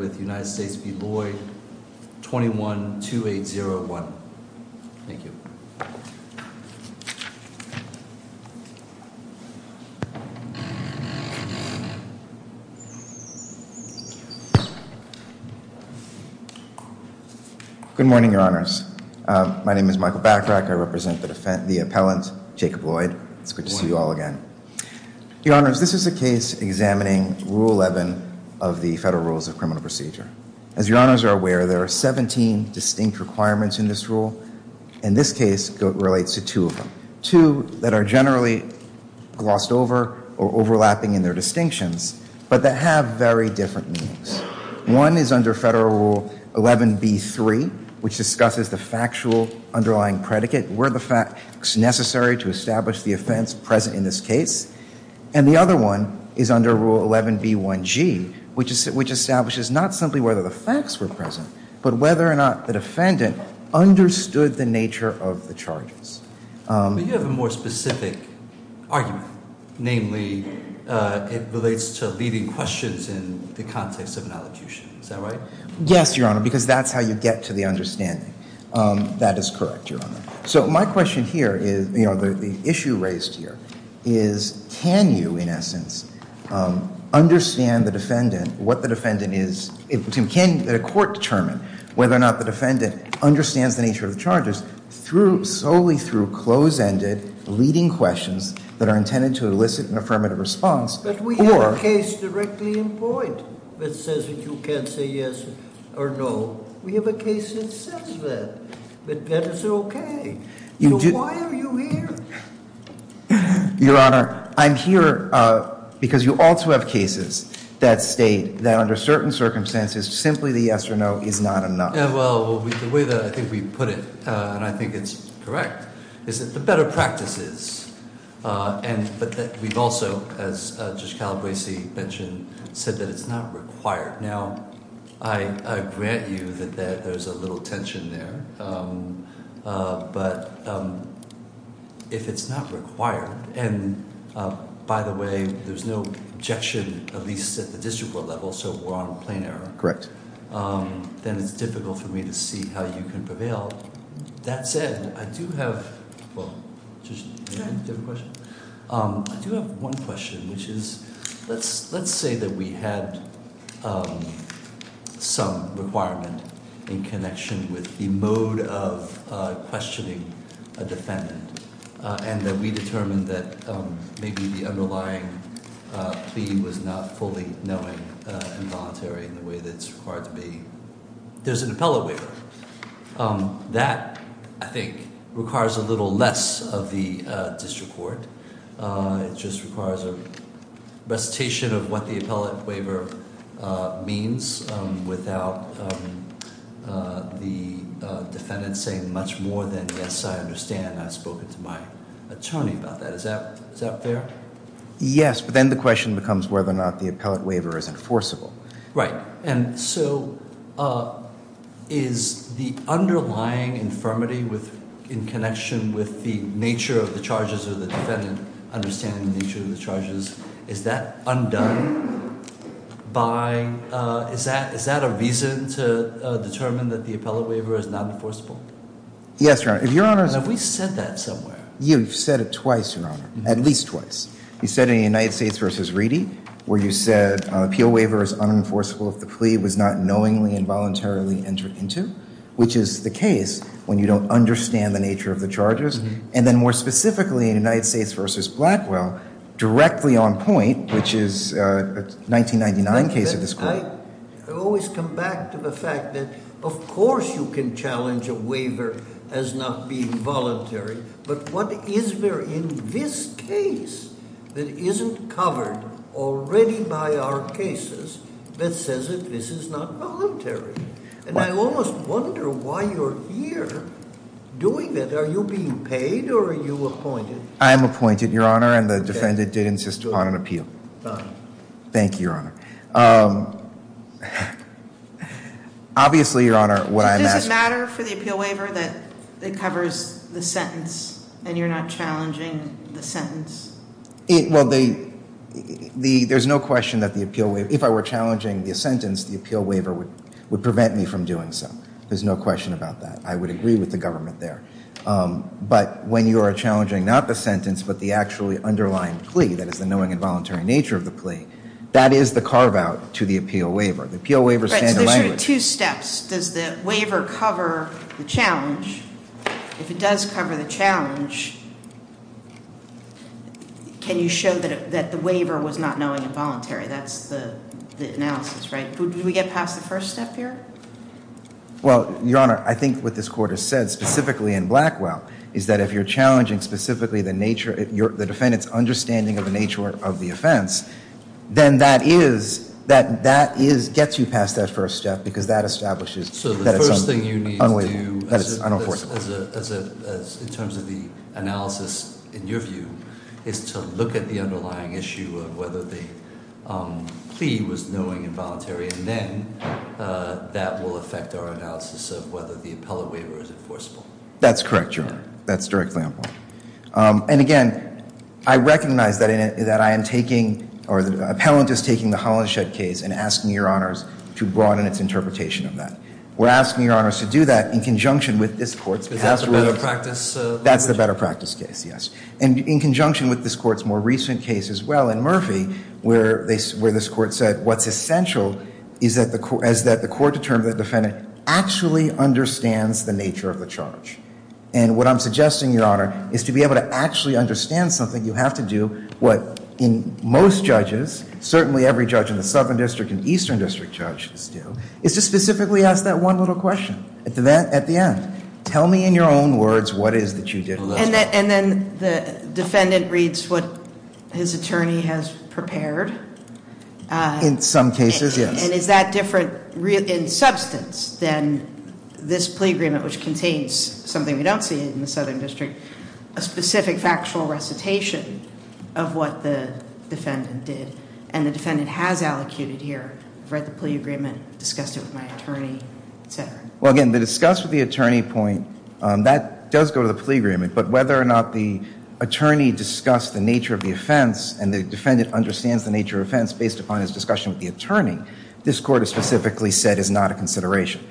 21-2801. Thank you. Good morning, your honors. My name is Michael Bachrach. I represent the appellant Jacob Loyd. It's good to see you all again. Your honors, this is a case examining Rule 11 of the Federal Rules of Criminal Procedure. As your honors are aware, there are 17 distinct requirements in this rule, and this case relates to two of them. Two that are generally glossed over or overlapping in their distinctions, but that have very different meanings. One is under Federal Rule 11b-3, which discusses the factual underlying predicate, were the facts necessary to establish not simply whether the facts were present, but whether or not the defendant understood the nature of the charges. But you have a more specific argument. Namely, it relates to leading questions in the context of an allegation. Is that right? Yes, your honor, because that's how you get to the understanding. That is correct, your honor. So my question here is, you know, the issue raised here is, can you, in essence, understand the defendant, what the defendant is, can a court determine whether or not the defendant understands the nature of the charges through, solely through close-ended, leading questions that are intended to elicit an affirmative response? But we have a case directly in point that says that you can't say yes or no. We have a case that says that, but that is okay. Why are you here? Your honor, I'm here because you also have cases that state that under certain circumstances, simply the yes or no is not enough. Yeah, well, the way that I think we put it, and I think it's correct, is that the better practice is. But that we've also, as Judge Calabresi mentioned, said that it's not required. Now, I grant you that there's a little tension there, but if it's not required, and by the way, there's no objection, at least at the district court level, so we're on a plain error. Correct. Then it's difficult for me to see how you can prevail. That said, I do have, well, do you have a question? I do have one question, which is, let's say that we had some requirement in connection with the mode of questioning a defendant, and that we determined that maybe the underlying plea was not fully knowing and voluntary in the way that it's required to be. There's an objection that requires a little less of the district court. It just requires a recitation of what the appellate waiver means without the defendant saying much more than, yes, I understand, I've spoken to my attorney about that. Is that fair? Yes, but then the question becomes whether or not the appellate waiver is enforceable. Right, and so is the underlying infirmity with, in connection with the nature of the charges of the defendant, understanding the nature of the charges, is that undone by, is that a reason to determine that the appellate waiver is not enforceable? Yes, Your Honor. Have we said that somewhere? You've said it twice, Your Honor, at least twice. You said in the United States v. Reedy, where you said an appeal waiver is unenforceable if the plea was not knowingly and voluntarily entered into, which is the case when you don't understand the nature of the charges. And then more specifically in United States v. Blackwell, directly on point, which is a 1999 case of this court. I always come back to the fact that of course you can challenge a waiver as not being voluntary, but what is there in this case that isn't covered already by our cases that says that this is not voluntary? And I almost wonder why you're here doing it. Are you being paid or are you appointed? I'm appointed, Your Honor, and the defendant did insist upon an appeal. Thank you, Your Honor. Obviously, Your Honor, what I'm asking- It covers the sentence and you're not challenging the sentence? Well, there's no question that the appeal waiver- if I were challenging the sentence, the appeal waiver would prevent me from doing so. There's no question about that. I would agree with the government there. But when you are challenging not the sentence, but the actually underlying plea, that is the knowing and voluntary nature of the plea, that is the carve out to the appeal waiver. The appeal waiver doesn't cover the challenge. If it does cover the challenge, can you show that the waiver was not knowing and voluntary? That's the analysis, right? Did we get past the first step here? Well, Your Honor, I think what this court has said, specifically in Blackwell, is that if you're challenging specifically the nature- the defendant's understanding of the nature of the offense, then that is- that is- gets you past that first step because that establishes that it's unenforceable. In terms of the analysis, in your view, is to look at the underlying issue of whether the plea was knowing and voluntary, and then that will affect our analysis of whether the appellate waiver is enforceable. That's correct, Your Honor. That's directly on point. And again, I recognize that I am taking- or the appellant is taking the Hollingshed case and asking Your Honors to broaden its interpretation of that. We're asking Your Honors to do that in conjunction with this court's- Because that's a better practice- That's a better practice case, yes. And in conjunction with this court's more recent case as well in Murphy, where they- where this court said what's essential is that the court- is that the court determines the defendant actually understands the nature of the charge. And what I'm suggesting, Your Honor, is to be able to actually understand something, you have to do what in most judges, certainly every judge in the Southern District and Eastern District judges do, is to specifically ask that one little question at the end. Tell me in your own words what it is that you did look at. And then the defendant reads what his attorney has prepared. In some cases, yes. And is that different in substance than this plea agreement, which contains something we don't see in the Southern District, a specific factual recitation of what the defendant did. And the defendant has allocated here, read the plea agreement, discussed it with my attorney, et cetera. Well, again, the discuss with the attorney point, that does go to the plea agreement. But whether or not the attorney discussed the nature of the offense and the defendant understands the nature of the offense based upon his discussion with the attorney, this court has specifically said is not a consideration.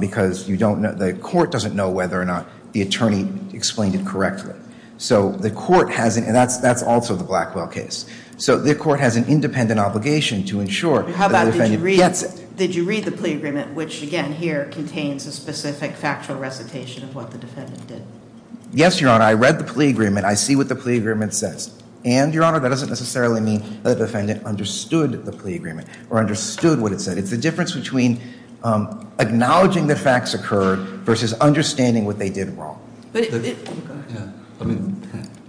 Because you don't- the court doesn't know whether or not the attorney explained it correctly. So the court has an- and that's also the Blackwell case. So the court has an independent obligation to ensure that the defendant gets- Did you read the plea agreement, which again here contains a specific factual recitation of what the defendant did? Yes, Your Honor. I read the plea agreement. I see what the plea agreement says. And, Your Honor, that doesn't necessarily mean that the defendant understood the plea agreement or understood what it said. It's the difference between acknowledging the facts occurred versus understanding what they did wrong. I mean,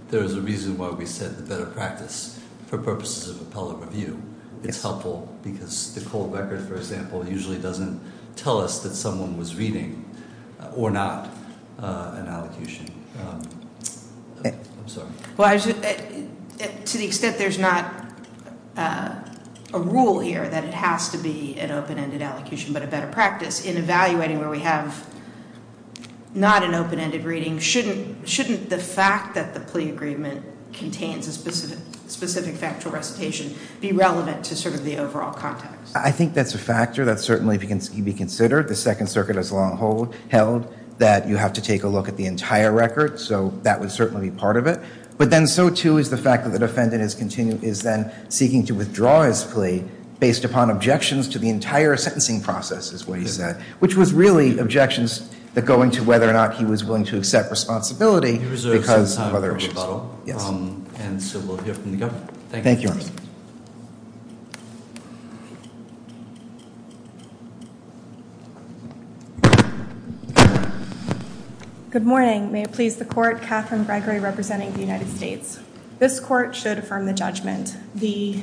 there's a reason why we said the better practice for purposes of appellate review. It's helpful because the cold record, for example, usually doesn't tell us that someone was reading or not an allocation. I'm sorry. To the extent there's not a rule here that it has to be an open-ended allocation, but a defendant does have not an open-ended reading, shouldn't the fact that the plea agreement contains a specific factual recitation be relevant to sort of the overall context? I think that's a factor that certainly can be considered. The Second Circuit has long held that you have to take a look at the entire record. So that would certainly be part of it. But then so, too, is the fact that the defendant is then seeking to whether or not he was willing to accept responsibility. Thank you, Your Honor. Good morning. May it please the Court. Katherine Gregory representing the United States. This Court should affirm the judgment. The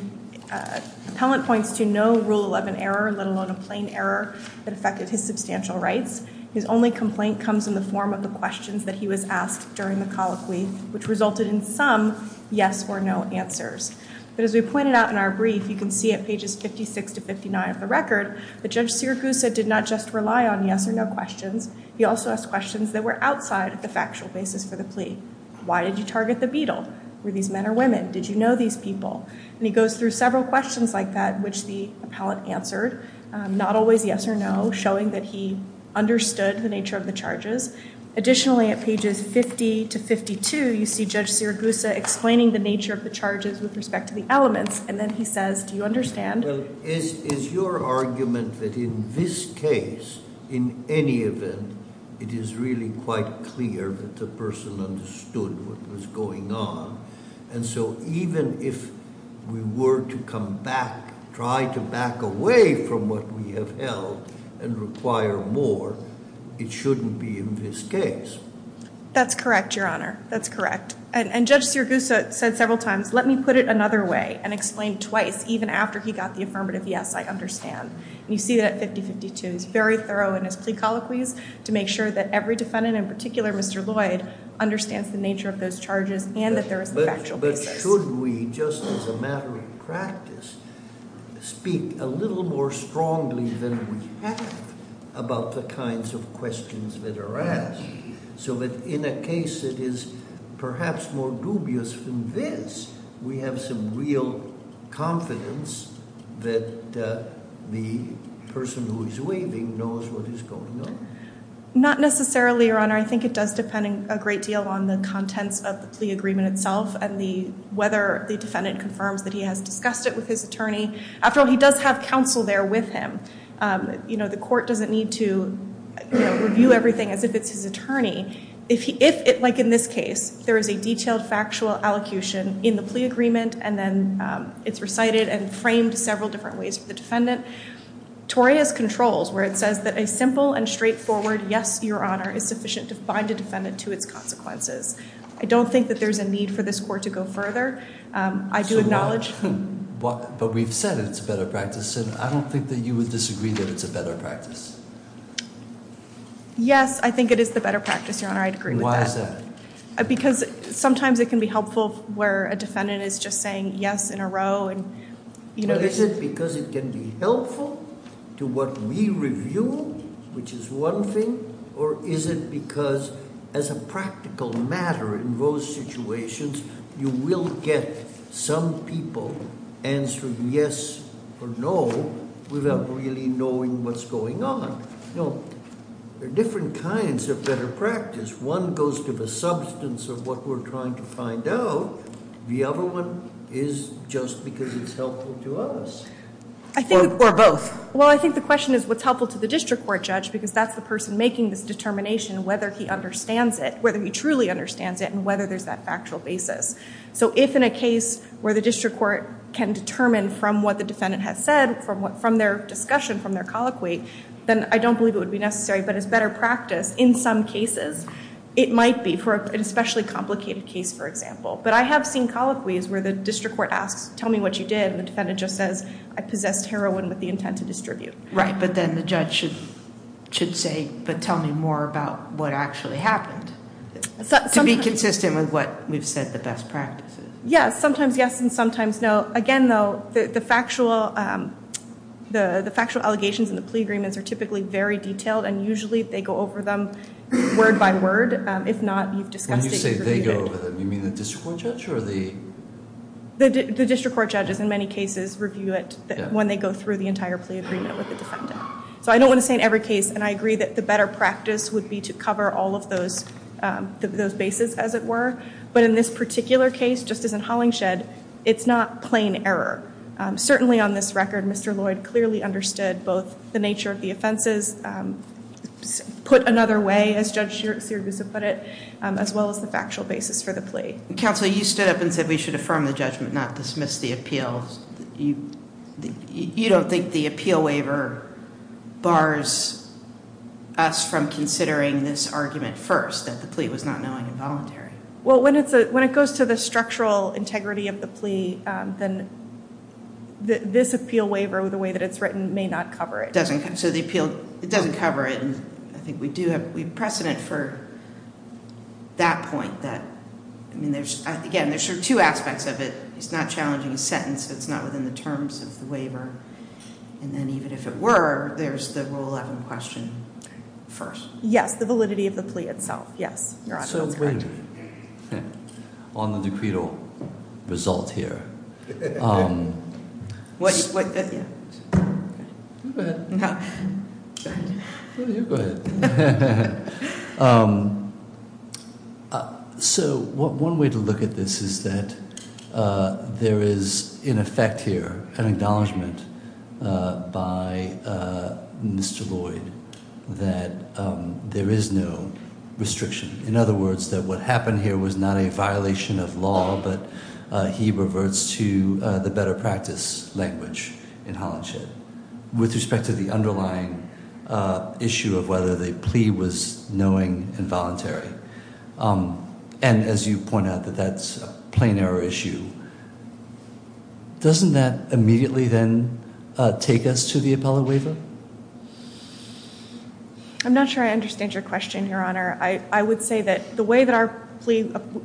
appellant points to no Rule 11 error, let alone a plain error that affected his substantial rights. His only complaint comes in the form of the questions that he was asked during the colloquy, which resulted in some yes or no answers. But as we pointed out in our brief, you can see at pages 56 to 59 of the record that Judge Siracusa did not just rely on yes or no questions. He also asked questions that were outside of the factual basis for the plea. Why did you target the Beatle? Were these men or women? Did you know these people? And he goes through several questions like that, which the appellant answered, not always yes or no, showing that he understood the nature of the charges. Additionally, at pages 50 to 52, you see Judge Siracusa explaining the nature of the charges with respect to the elements. And then he says, do you understand? Is your argument that in this case, in any event, it is really quite clear that the person understood what was going on? And so even if we were to come back, try to back away from what we have held and require more, it shouldn't be in this case. That's correct, Your Honor. That's correct. And Judge Siracusa said several times, let me put it another way and explain twice, even after he got the affirmative yes, I understand. And you see that at 50-52. He's very thorough in his plea colloquies to make sure that every defendant in particular, Mr. Lloyd, understands the nature of those charges and that there is a factual basis. But should we, just as a matter of practice, speak a little more strongly than we have about the kinds of questions that are asked, so that in a case that is perhaps more dubious than this, we have some real confidence that the person who is waving knows what is going on? Not necessarily, Your Honor. I think it does depend a great deal on the contents of the plea agreement itself and whether the defendant confirms that he has discussed it with his attorney. After all, he does have counsel there with him. The court doesn't need to review everything as if it's his attorney. If, like in this case, there is a detailed factual allocution in the plea agreement and then it's recited and framed several different ways for the defendant, Toria's controls, where it says that a simple and straightforward yes, Your Honor, is sufficient to find a defendant to its consequences. I don't think that there's a need for this court to go further. I do acknowledge... But we've said it's a better practice. I don't think that you would disagree that it's a better practice. Yes, I think it is the better practice, Your Honor. I agree with that. Why is that? Because sometimes it can be helpful where a defendant is just saying yes in a row. But is it because it can be helpful to what we review, which is one thing, or is it because as a judge, you can answer yes or no without really knowing what's going on. There are different kinds of better practice. One goes to the substance of what we're trying to find out. The other one is just because it's helpful to us. Or both. Well, I think the question is what's helpful to the district court judge because that's the person making this determination, whether he understands it, whether he truly understands it, and whether there's that factual basis. So if in a case where the district court can determine from what the defendant has said, from their discussion, from their colloquy, then I don't believe it would be necessary. But as better practice, in some cases, it might be for an especially complicated case for example. But I have seen colloquies where the district court asks, tell me what you did, and the defendant just says, I possessed heroin with the intent to distribute. Right, but then the judge should say, but tell me more about what actually happened. To be consistent with what we've said the best practice is. Yeah, sometimes yes and sometimes no. Again though, the factual allegations and the plea agreements are typically very detailed and usually they go over them word by word. If not, you've discussed it. When you say they go over them, you mean the district court judge or the? The district court judges in many cases review it when they go through the entire plea agreement with the defendant. So I don't want to say in every case, and I agree that the better practice would be to cover all of those bases as it were. But in this particular case, just as in Hollingshed, it's not plain error. Certainly on this record, Mr. Lloyd clearly understood both the nature of the offenses put another way, as Judge Sirigusa put it, as well as the factual basis for the plea. Counsel, you stood up and said we should affirm the judgment, not dismiss the appeal. You don't think the appeal waiver bars us from considering this argument first, that the plea was not knowing and voluntary? Well, when it goes to the structural integrity of the plea, then this appeal waiver, the way that it's written, may not cover it. It doesn't cover it. I think we do have precedent for that point. Again, there are two aspects of it. It's not challenging a sentence. It's not within the terms of the waiver. And then even if it were, there's the Rule 11 question first. Yes, the validity of the plea itself. Yes, you're absolutely correct. So wait a minute. On the decreed result here. Go ahead. You go ahead. One way to look at this is that there is, in effect here, an acknowledgement by Mr. Lloyd that there is no restriction. In other words, that what happened here was not a violation of law, but he reverts to the better practice language in Hollandship. With respect to the underlying issue of whether the plea was knowing and voluntary. And as you point out, that that's a plain error issue. Doesn't that immediately then take us to the appellate waiver? I'm not sure I understand your question, Your Honor. I would say that the way that our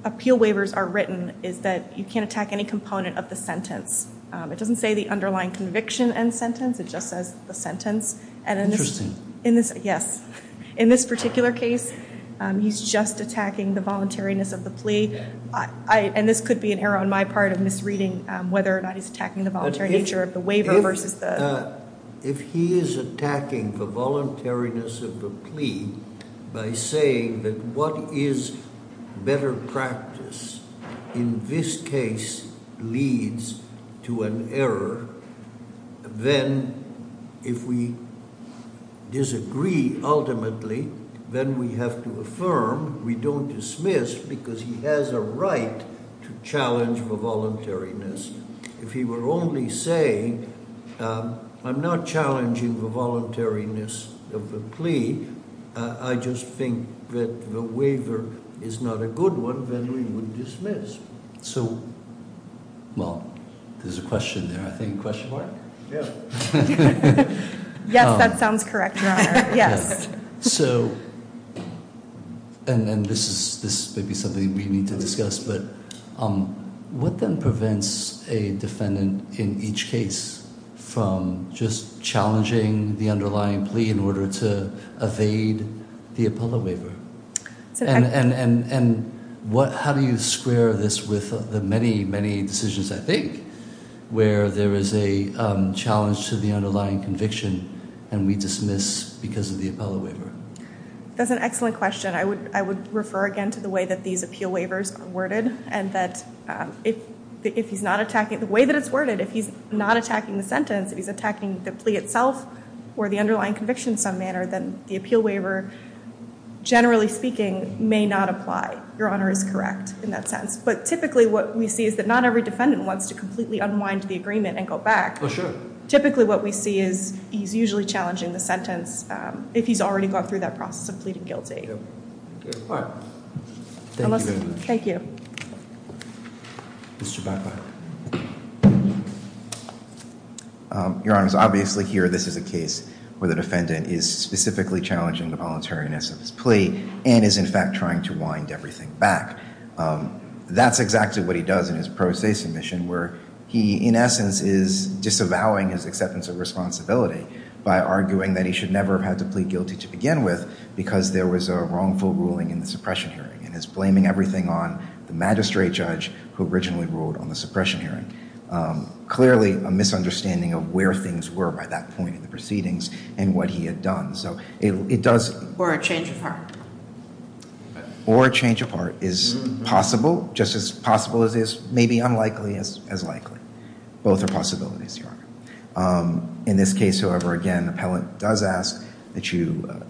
appeal waivers are written is that you can't attack any component of the sentence. It doesn't say the underlying conviction and sentence. It just attacking the voluntariness of the plea. And this could be an error on my part of misreading whether or not he's attacking the voluntary nature of the waiver versus the... If he is attacking the voluntariness of the plea by saying that what is better practice in this case leads to an error, then if we disagree ultimately, then we have to affirm we don't dismiss because he has a right to challenge the voluntariness. If he were only saying, I'm not challenging the voluntariness of the plea, I just think that the waiver is not a good one, then we would dismiss. Well, there's a question there, I think. Question mark? Yes, that sounds correct, Your Honor. This may be something we need to discuss, but what then prevents a defendant in each case from just challenging the underlying plea in order to dismiss with the many, many decisions, I think, where there is a challenge to the underlying conviction and we dismiss because of the appellate waiver? That's an excellent question. I would refer again to the way that these appeal waivers are worded and that if he's not attacking... The way that it's worded, if he's not attacking the sentence, if he's attacking the plea itself or the underlying conviction in some manner, then the appeal waiver, generally speaking, may not apply. Your Honor is correct in that sense. But typically what we see is that not every defendant wants to completely unwind the agreement and go back. Oh, sure. Typically what we see is he's usually challenging the sentence if he's already gone through that process of pleading guilty. Thank you very much. Thank you. Mr. Baca. Your Honor, obviously here this is a case where the defendant is specifically challenging the voluntariness of his plea and is, in fact, trying to wind everything back. That's exactly what he does in his pro se submission where he, in essence, is disavowing his acceptance of responsibility by arguing that he should never have had to plead guilty to begin with because there was a wrongful ruling in the suppression hearing and is blaming everything on the magistrate judge who originally ruled on the suppression hearing. Clearly a misunderstanding of where things were by that point in the proceedings and what he had done. Or a change of heart. Or a change of heart is possible, just as possible as it is maybe unlikely as it is. But I think it's important that you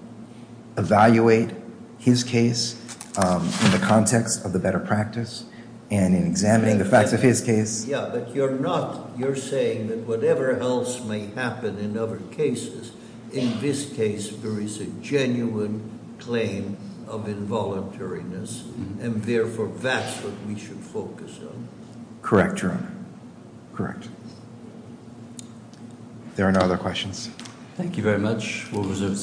evaluate his case in the context of the better practice and in examining the facts of his case. Yeah, but you're not, you're saying that whatever else may happen in other cases, in this case there is a genuine claim of involuntariness and therefore that's what we should focus on. Correct, Your Honor. Correct. There are no other questions. Thank you very much.